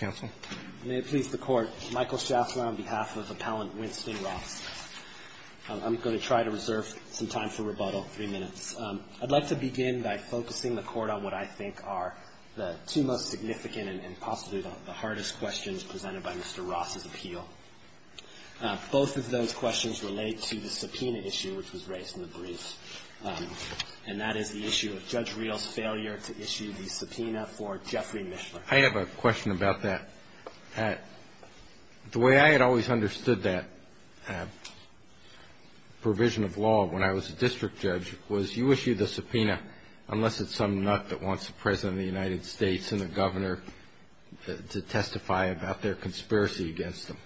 I'm going to try to reserve some time for rebuttal. Three minutes. I'd like to begin by focusing the court on what I think are the two most significant and possibly the hardest questions presented by Mr. Ross' appeal. Both of those questions relate to the subpoena issue which was raised in the brief. And that is the issue of Judge Rios' failure to issue the subpoena for Jeffrey Mishler. I have a question about that. The way I had always understood that provision of law when I was a district judge was you issue the subpoena unless it's some nut that wants the President of the United States and the Governor to testify about their conspiracy against them.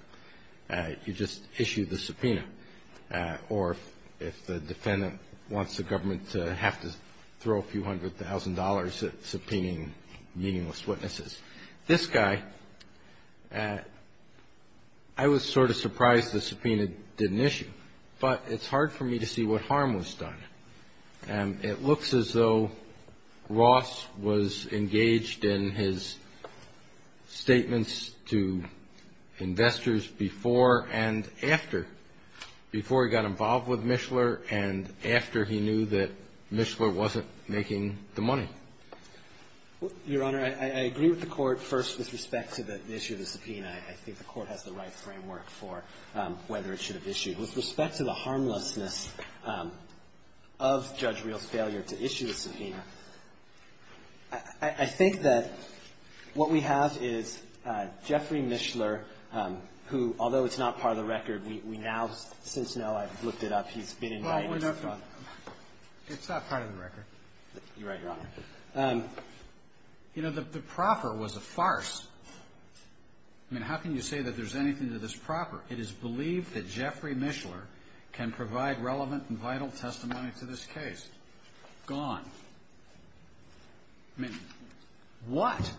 You just issue the subpoena. Or if the defendant wants the government to have to throw a few hundred thousand dollars at subpoenaing meaningless witnesses. This guy, I was sort of surprised the subpoena didn't issue. But it's hard for me to see what harm was done. And it looks as though Ross was engaged in his statements to investors before and after. Before he got involved with Mishler and after he knew that Mishler wasn't making the money. Well, Your Honor, I agree with the Court, first, with respect to the issue of the subpoena. I think the Court has the right framework for whether it should have issued. With respect to the harmlessness of Judge Rios' failure to issue the subpoena, I think that what we have is Jeffrey Mishler, who, although it's not part of the record, we now since now have looked it up. He's been in writing. It's not part of the record. You're right, Your Honor. You know, the proffer was a farce. I mean, how can you say that there's anything to this proffer? It is believed that Jeffrey Mishler can provide relevant and vital testimony to this case. Gone. I mean, what?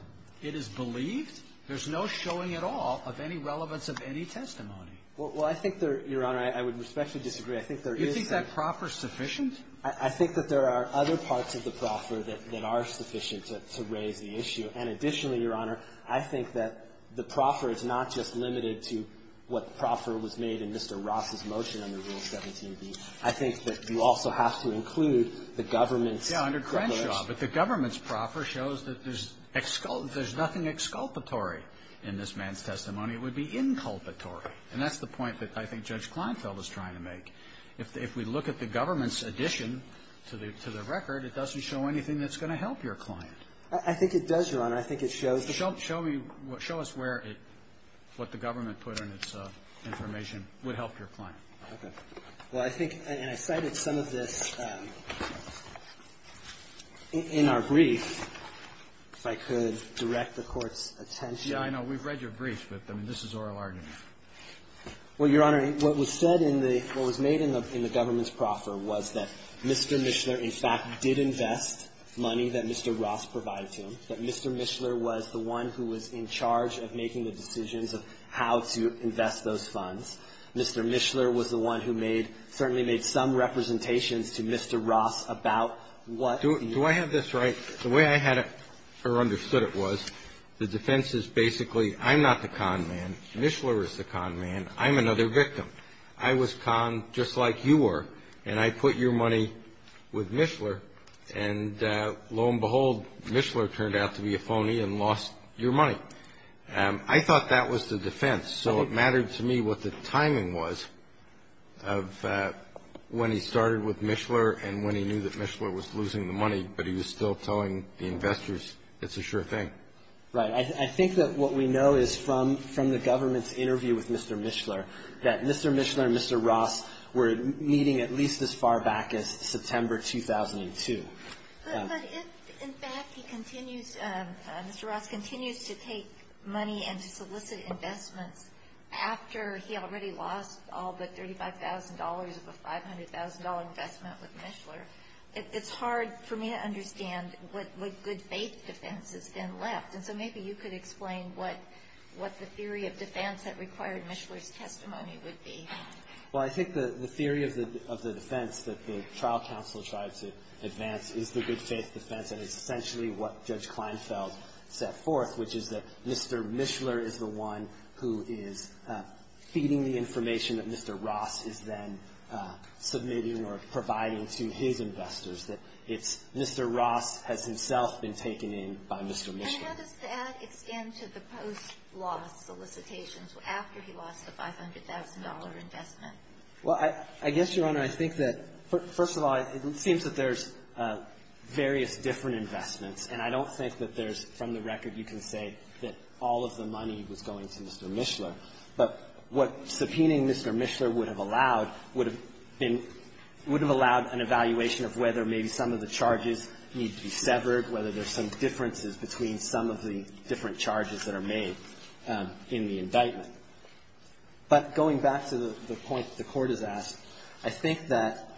It is believed? There's no showing at all of any relevance of any testimony. Well, I think there, Your Honor, I would respectfully disagree. I think there is some You think that proffer's sufficient? I think that there are other parts of the proffer that are sufficient to raise the issue. And additionally, Your Honor, I think that the proffer is not just limited to what the proffer was made in Mr. Ross' motion under Rule 17b. I think that you also have to include the government's Yeah, under Crenshaw, but the government's proffer shows that there's nothing exculpatory in this man's testimony. It would be inculpatory. And that's the point that I think Judge Kleinfeld is trying to make. If we look at the government's addition to the record, it doesn't show anything that's going to help your client. I think it does, Your Honor. I think it shows the Show me, show us where it, what the government put in its information would help your client. Okay. Well, I think, and I cited some of this in our brief, if I could direct the Court's attention. Yeah, I know. We've read your brief, but this is oral argument. Well, Your Honor, what was said in the, what was made in the government's proffer was that Mr. Mishler, in fact, did invest money that Mr. Ross provided to him, that Mr. Mishler was the one who was in charge of making the decisions of how to invest those funds. Mr. Mishler was the one who made, certainly made some representations to Mr. Ross about what Do I have this right? The way I had, or understood it was, the defense is basically, I'm not the con man. Mishler is the con man. I'm another victim. I was con, just like you were, and I put your money with Mishler, and lo and behold, Mishler turned out to be a phony and lost your money. I thought that was the defense, so it mattered to me what the timing was of when he started with Mishler and when he knew that Mishler was losing the money, but he was still telling the investors it's a sure thing. Right. I think that what we know is from the government's interview with Mr. Mishler, that Mr. Mishler and Mr. Ross were meeting at least as far back as September 2002. But if, in fact, he continues, Mr. Ross continues to take money and to solicit investments after he already lost all but $35,000 of a $500,000 investment with Mishler, it's hard for me to understand what good faith defense has been left. And so maybe you could explain what the theory of defense that required Mishler's testimony would be. Well, I think the theory of the defense that the trial counsel tried to advance is the good faith defense, and it's essentially what Judge Kleinfeld set forth, which is that Mr. Mishler is the one who is feeding the information that Mr. Ross is then submitting or providing to his investors, that it's Mr. Ross has himself been taken in by Mr. Mishler. And how does that extend to the post-loss solicitations after he lost a $500,000 investment? Well, I guess, Your Honor, I think that, first of all, it seems that there's various different investments, and I don't think that there's, from the record, you can say that all of the money was going to Mr. Mishler. But what subpoenaing Mr. Mishler would have allowed would have been – would have allowed an evaluation of whether maybe some of the charges need to be severed, whether there's some differences between some of the different charges that are made in the indictment. But going back to the point the Court has asked, I think that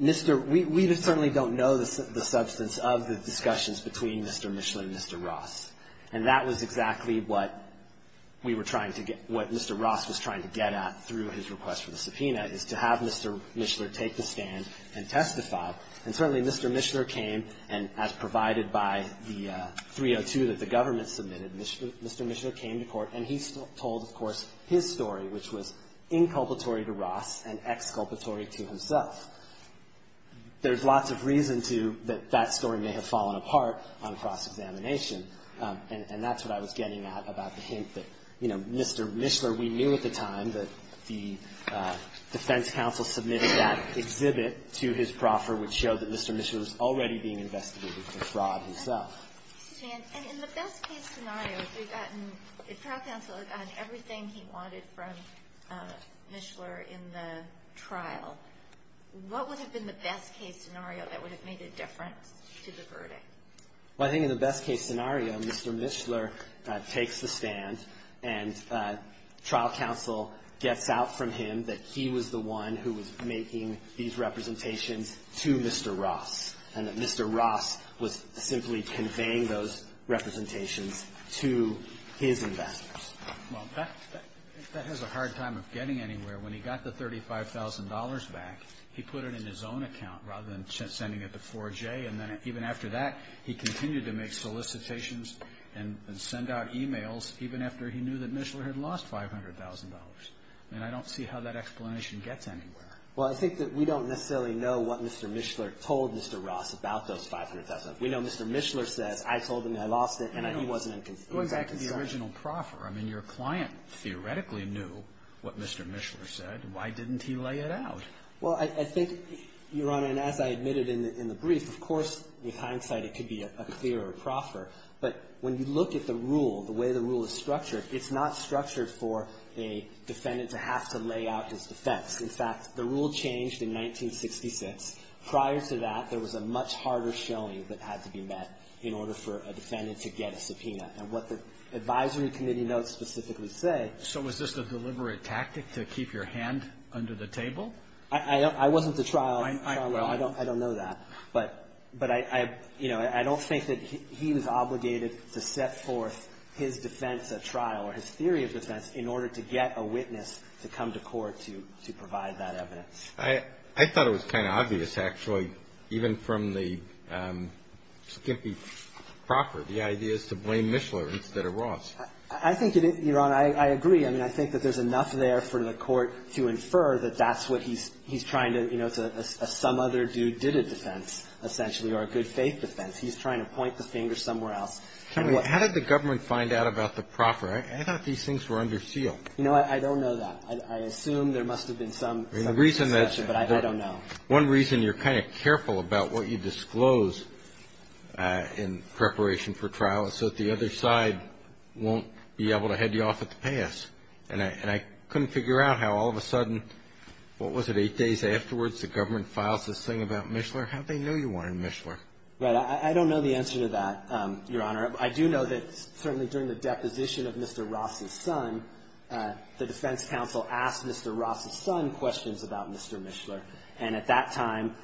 Mr. – we certainly don't know the substance of the discussions between Mr. Mishler and Mr. Ross. And that was exactly what we were trying to get – what Mr. Ross was trying to get at through his request for the subpoena, is to have Mr. Mishler take the stand and testify. And certainly, Mr. Mishler came, and as provided by the 302 that the government submitted, Mr. Mishler came to court, and he told, of course, his story, which was inculpatory to Ross and exculpatory to himself. There's lots of reason to – that that story may have fallen apart on cross-examination, and that's what I was getting at about the hint that, you know, Mr. Mishler – we knew at the time that the defense counsel had submitted that exhibit to his proffer, which showed that Mr. Mishler was already being investigated for fraud himself. And in the best-case scenario, if we've gotten – if trial counsel had gotten everything he wanted from Mishler in the trial, what would have been the best-case scenario that would have made a difference to the verdict? Well, I think in the best-case scenario, Mr. Mishler takes the stand, and trial counsel gets out from him that he was the one who was making these representations to Mr. Ross, and that Mr. Ross was simply conveying those representations to his investors. Well, that has a hard time of getting anywhere. When he got the $35,000 back, he put it in his own account rather than sending it to 4J, and then even after that, he continued to make solicitations and send out emails even after he knew that Mishler had lost $500,000. I mean, I don't see how that explanation gets anywhere. Well, I think that we don't necessarily know what Mr. Mishler told Mr. Ross about those $500,000. We know Mr. Mishler says, I told him I lost it, and he wasn't in concern. It goes back to the original proffer. I mean, your client theoretically knew what Mr. Mishler said. Why didn't he lay it out? Well, I think, Your Honor, and as I admitted in the brief, of course, with hindsight, it could be a clear proffer. But when you look at the rule, the way the rule is structured, it's not structured for a defendant to have to lay out his defense. In fact, the rule changed in 1966. Prior to that, there was a much harder showing that had to be met in order for a defendant to get a subpoena. And what the advisory committee notes specifically say — So was this a deliberate tactic to keep your hand under the table? I wasn't the trial — Well, I — I don't know that. But I don't think that he was obligated to set forth his defense at trial or his theory of defense in order to get a witness to come to court to provide that evidence. I thought it was kind of obvious, actually, even from the skimpy proffer. The idea is to blame Mishler instead of Ross. I think, Your Honor, I agree. I mean, I think that there's enough there for the court to infer that that's what he's trying to — he's trying to point the finger somewhere else. How did the government find out about the proffer? I thought these things were under seal. You know, I don't know that. I assume there must have been some — The reason that — But I don't know. One reason you're kind of careful about what you disclose in preparation for trial is so that the other side won't be able to head you off at the pass. And I couldn't figure out how all of a sudden — what was it, eight days afterwards, the government files this thing about Mishler? How'd they know you wanted Mishler? Right. I don't know the answer to that, Your Honor. I do know that certainly during the deposition of Mr. Ross' son, the defense counsel asked Mr. Ross' son questions about Mr. Mishler. And at that time,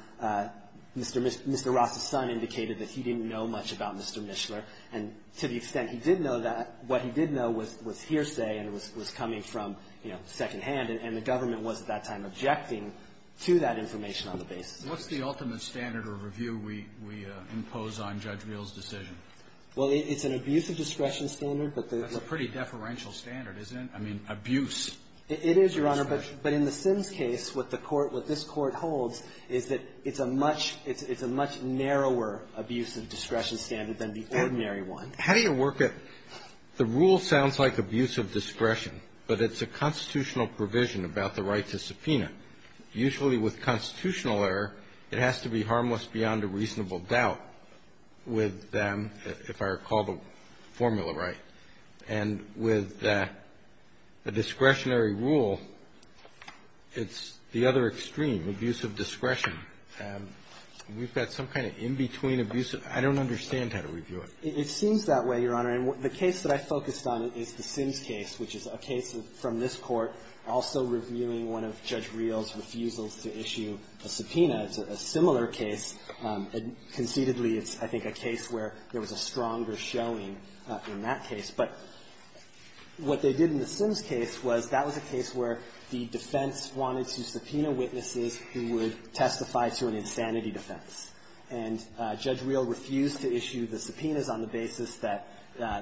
Mr. Ross' son indicated that he didn't know much about Mr. Mishler. And to the extent he did know that, what he did know was hearsay and was coming from, you know, secondhand. And the government was at that time objecting to that information on the basis. What's the ultimate standard or review we impose on Judge Real's decision? Well, it's an abuse of discretion standard, but the — That's a pretty deferential standard, isn't it? I mean, abuse. It is, Your Honor. But in the Sims case, what the court — what this court holds is that it's a much — it's a much narrower abuse of discretion standard than the ordinary one. How do you work it? The rule sounds like abuse of discretion, but it's a constitutional provision about the right to subpoena. Usually with constitutional error, it has to be harmless beyond a reasonable doubt with them, if I recall the formula right. And with the discretionary rule, it's the other extreme, abuse of discretion. We've got some kind of in-between abuse. I don't understand how to review it. It seems that way, Your Honor. And the case that I focused on is the Sims case, which is a case from this Court also reviewing one of Judge Real's refusals to issue a subpoena. It's a similar case. Conceitedly, it's, I think, a case where there was a stronger showing in that case. But what they did in the Sims case was that was a case where the defense wanted to subpoena witnesses who would testify to an insanity defense. And Judge Real refused to issue the subpoenas on the basis that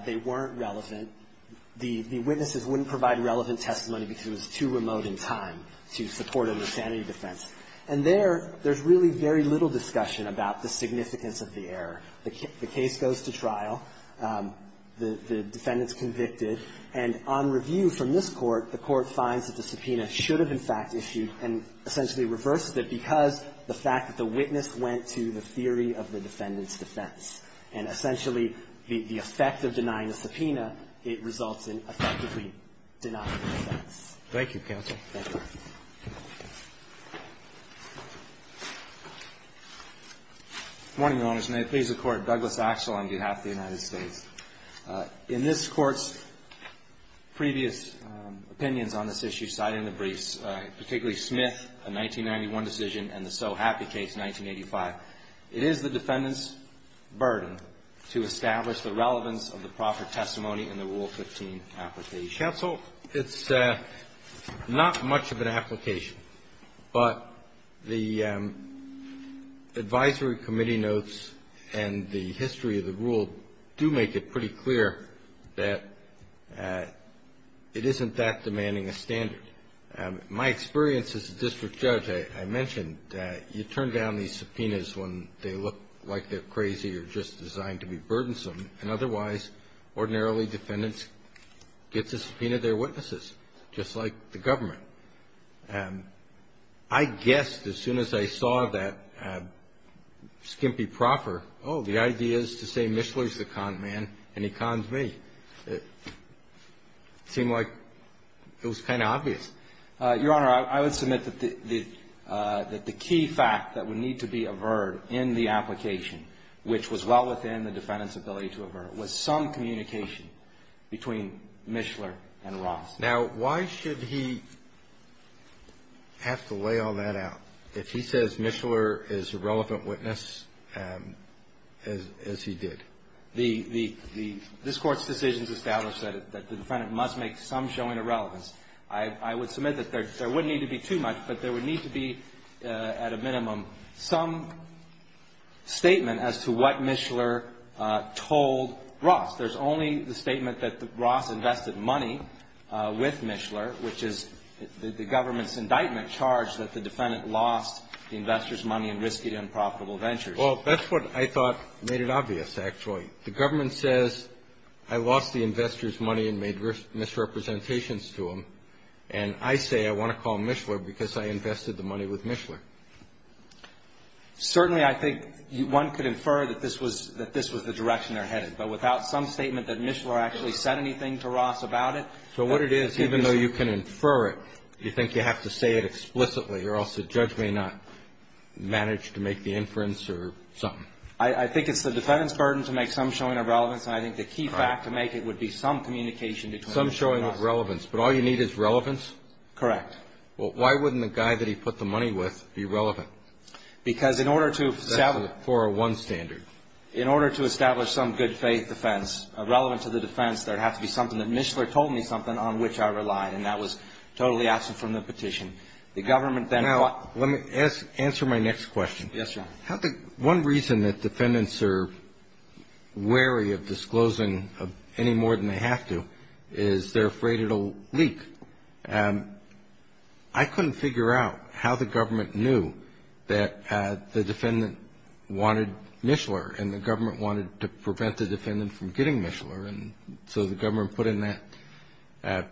they weren't relevant. The witnesses wouldn't provide relevant testimony because it was too remote in time to support an insanity defense. And there, there's really very little discussion about the significance of the error. The case goes to trial. The defendant's convicted. And on review from this Court, the Court finds that the subpoena should have, in fact, issued and essentially reversed it because the fact that the witness went to the theory of the defendant's defense. And essentially, the effect of denying the subpoena, it results in effectively denying the defense. Thank you, Counsel. Thank you. Good morning, Your Honor. May it please the Court. Douglas Axel on behalf of the United States. In this Court's previous opinions on this issue, citing the briefs, particularly Smith, a 1991 decision, and the So Happy case, 1985, it is the defendant's burden to establish the relevance of the proper testimony in the Rule 15 application. Counsel, it's not much of an application. But the advisory committee notes and the history of the rule do make it pretty clear that it isn't that demanding a standard. My experience as a district judge, I mentioned that you turn down these subpoenas when they look like they're crazy or just designed to be burdensome. And otherwise, ordinarily, defendants get to subpoena their witnesses, just like the government. I guessed as soon as I saw that skimpy proffer, oh, the idea is to say Mishler's the con man and he conned me. It seemed like it was kind of obvious. Your Honor, I would submit that the key fact that would need to be averred in the application, which was well within the defendant's ability to avert, was some communication between Mishler and Ross. Now, why should he have to lay all that out if he says Mishler is a relevant witness as he did? This Court's decisions establish that the defendant must make some showing of relevance. I would submit that there wouldn't need to be too much, but there would need to be at a minimum some statement as to what Mishler told Ross. There's only the statement that Ross invested money with Mishler, which is the government's indictment charge that the defendant lost the investor's money and risked it in profitable ventures. Well, that's what I thought made it obvious, actually. The government says I lost the investor's money and made misrepresentations to him, and I say I want to call Mishler because I invested the money with Mishler. Certainly, I think one could infer that this was the direction they're headed, but without some statement that Mishler actually said anything to Ross about it? So what it is, even though you can infer it, you think you have to say it explicitly or else the judge may not manage to make the inference or something? I think it's the defendant's burden to make some showing of relevance, and I think the key fact to make it would be some communication between the two of us. Some showing of relevance. But all you need is relevance? Correct. Well, why wouldn't the guy that he put the money with be relevant? Because in order to establish... That's a 401 standard. In order to establish some good faith defense relevant to the defense, there would have to be something that Mishler told me something on which I relied, and that was totally absent from the petition. The government then... Now, let me answer my next question. Yes, Your Honor. One reason that defendants are wary of disclosing any more than they have to is they're afraid it'll leak. I couldn't figure out how the government knew that the defendant wanted Mishler, and the government wanted to prevent the defendant from getting Mishler, and so the government put in that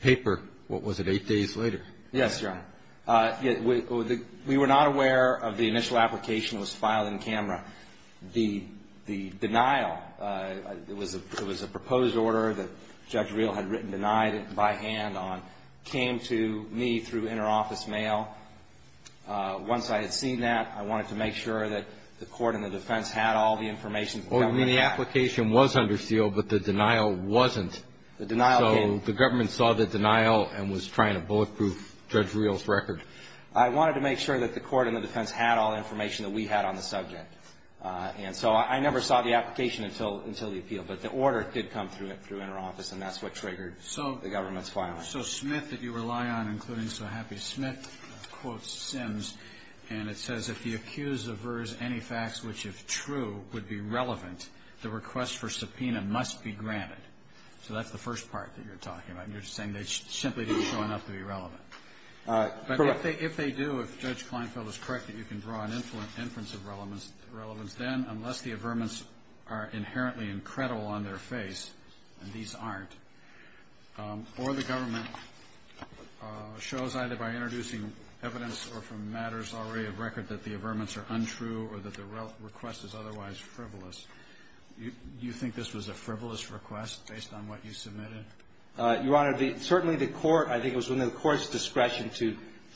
paper, what was it, eight days later? Yes, Your Honor. We were not aware of the initial application that was filed in camera. The denial, it was a proposed order that Judge Reel had written denied by hand on, came to me through interoffice mail. Once I had seen that, I wanted to make sure that the court and the defense had all the information. Well, I mean, the application was under seal, but the denial wasn't. The denial came... Judge Reel's record. I wanted to make sure that the court and the defense had all the information that we had on the subject, and so I never saw the application until the appeal, but the order did come through interoffice, and that's what triggered the government's filing. So Smith, that you rely on, including so happy Smith, quotes Sims, and it says, if the accused avers any facts which, if true, would be relevant, the request for subpoena must be granted. So that's the first part that you're talking about. You're saying they simply didn't show enough to be relevant. Correct. But if they do, if Judge Kleinfeld is correct that you can draw an inference of relevance, then unless the averments are inherently incredible on their face, and these aren't, or the government shows either by introducing evidence or from matters already of record that the averments are untrue or that the request is otherwise frivolous, do you think this was a frivolous request based on what you submitted? Your Honor, certainly the court, I think it was within the court's discretion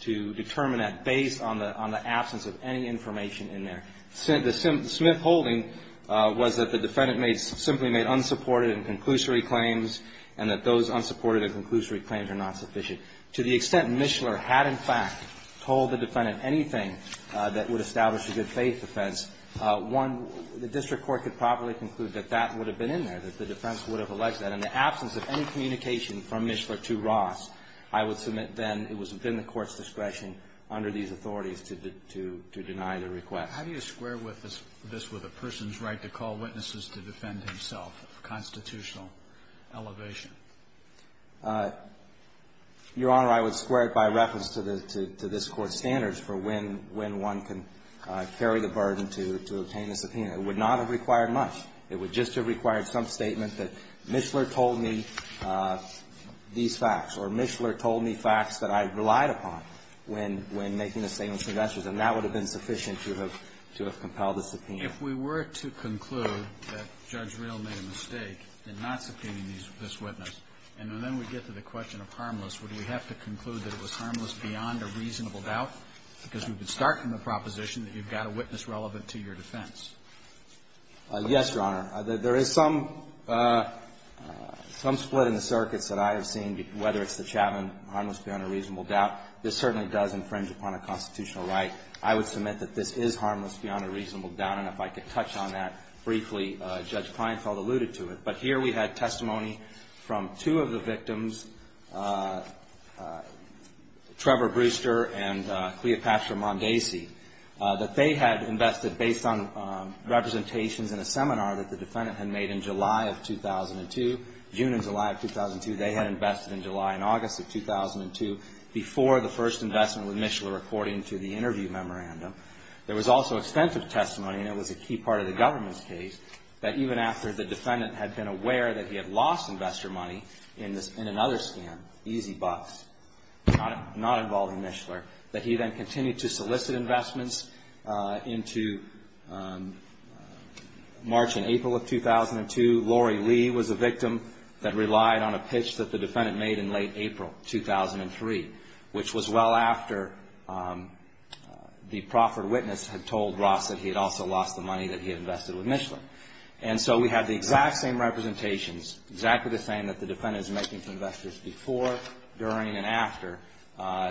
to determine that based on the absence of any information in there. The Smith holding was that the defendant simply made unsupported and conclusory claims and that those unsupported and conclusory claims are not sufficient. To the extent Mishler had, in fact, told the defendant anything that would establish a good faith defense, one, the district court could probably conclude that that would have been in there, that the defense would have alleged that. In the absence of any communication from Mishler to Ross, I would submit then it was within the court's discretion under these authorities to deny the request. How do you square this with a person's right to call witnesses to defend himself, constitutional elevation? Your Honor, I would square it by reference to this Court's standards for when one can carry the burden to obtain a subpoena. It would not have required much. It would just have required some statement that Mishler told me these facts or Mishler told me facts that I relied upon when making a statement of suggestions and that would have been sufficient to have compelled a subpoena. If we were to conclude that Judge Rehl made a mistake in not subpoenaing this witness and then we get to the question of harmless, would we have to conclude that it was harmless beyond a reasonable doubt? Because we would start from the proposition that you've got a witness relevant to your defense. Yes, Your Honor. There is some split in the circuits that I have seen, whether it's the Chapman harmless beyond a reasonable doubt. This certainly does infringe upon a constitutional right. I would submit that this is harmless beyond a reasonable doubt, and if I could touch on that briefly, Judge Kleinfeld alluded to it. But here we had testimony from two of the victims, Trevor Brewster and Cleopatra Mondesi, that they had invested based on representations in a seminar that the defendant had made in July of 2002, June and July of 2002. They had invested in July and August of 2002 before the first investment with Mishler according to the interview memorandum. There was also extensive testimony, and it was a key part of the government's case, that even after the defendant had been aware that he had lost investor money in another scam, Easy Bucks, not involving Mishler, that he then continued to solicit investments into March and April of 2002. Lori Lee was a victim that relied on a pitch that the defendant made in late April 2003, which was well after the proffered witness had told Ross that he had also lost the money that he had invested with Mishler. And so we had the exact same representations, exactly the same that the defendant is making to investors before, during and after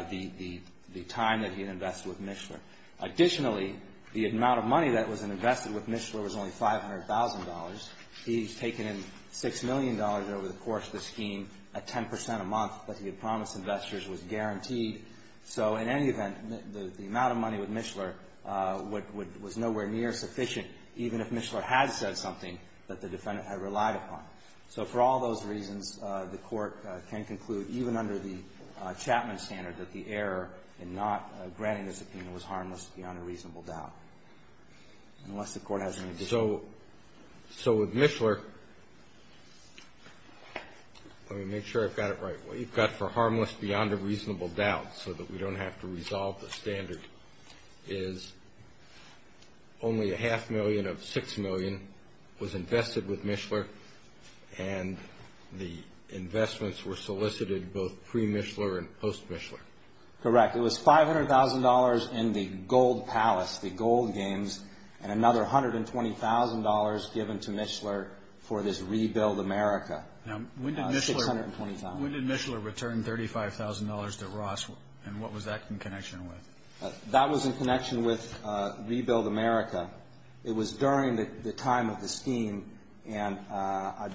the time that he had invested with Mishler. Additionally, the amount of money that was invested with Mishler was only $500,000. He's taken in $6 million over the course of the scheme at 10% a month that he had promised investors was guaranteed. So in any event, the amount of money with Mishler was nowhere near sufficient, even if Mishler had said something that the defendant had relied upon. So for all those reasons, the court can conclude, even under the Chapman standard, that the error in not granting the subpoena was harmless beyond a reasonable doubt, unless the court has any disagreement. So with Mishler, let me make sure I've got it right. What you've got for harmless beyond a reasonable doubt, so that we don't have to resolve the standard, is only a half million of $6 million was invested with Mishler, and the investments were solicited both pre-Mishler and post-Mishler. Correct. It was $500,000 in the gold palace, the gold games, and another $120,000 given to Mishler for this rebuild America. Now, when did Mishler return $35,000 to Ross, and what was that in connection with? That was in connection with rebuild America. It was during the time of the scheme, and I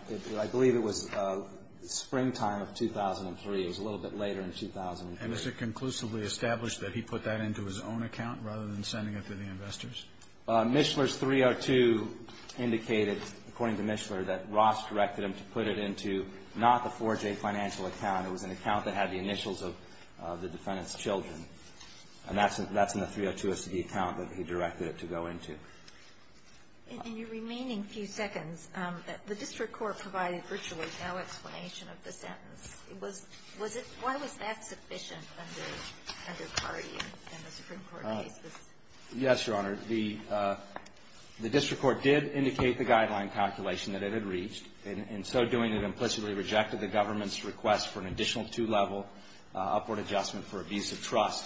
believe it was springtime of 2003. It was a little bit later in 2003. And is it conclusively established that he put that into his own account, rather than sending it to the investors? Mishler's 302 indicated, according to Mishler, that Ross directed him to put it into not the 4J financial account. It was an account that had the initials of the defendant's children, and that's in the 302 SD account that he directed it to go into. In your remaining few seconds, the district court provided virtually no explanation of the sentence. Why was that sufficient under Cardi in the Supreme Court case? Yes, Your Honor. The district court did indicate the guideline calculation that it had reached. In so doing, it implicitly rejected the government's request for an additional two-level upward adjustment for abusive trust,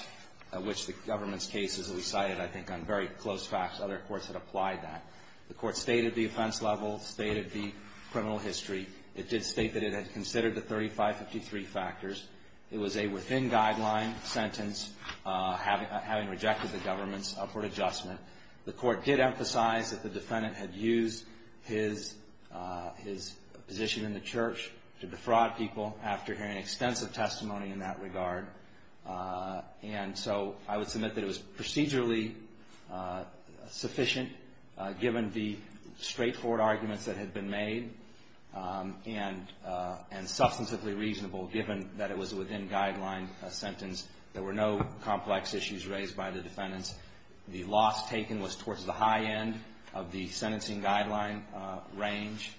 which the government's case, as we cited, I think on very close facts, other courts had applied that. The court stated the offense level, stated the criminal history. It did state that it had considered the 3553 factors. It was a within-guideline sentence, having rejected the government's upward adjustment. The court did emphasize that the defendant had used his position in the church to defraud people after hearing extensive testimony in that regard. And so I would submit that it was procedurally sufficient, given the straightforward arguments that had been made, and substantively reasonable, given that it was a within-guideline sentence. There were no complex issues raised by the defendants. The loss taken was towards the high end of the sentencing guideline range,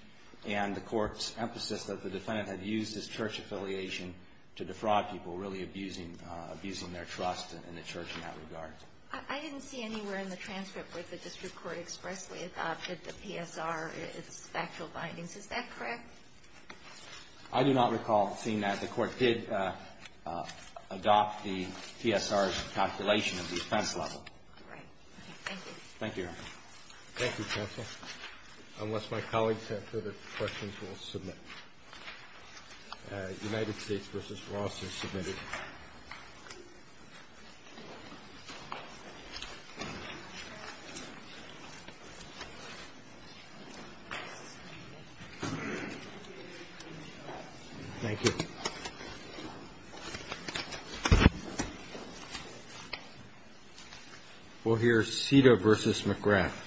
and the court's emphasis that the defendant had used his church affiliation to defraud people, really abusing their trust in the church in that regard. I didn't see anywhere in the transcript where the district court expressly adopted the PSR, its factual findings. Is that correct? I do not recall seeing that. The court did adopt the PSR's calculation of the offense level. All right. Thank you. Thank you, Your Honor. Thank you, counsel. Unless my colleagues have further questions, we'll submit. United States v. Ross is submitted. Thank you. We'll hear Cedar v. McGrath.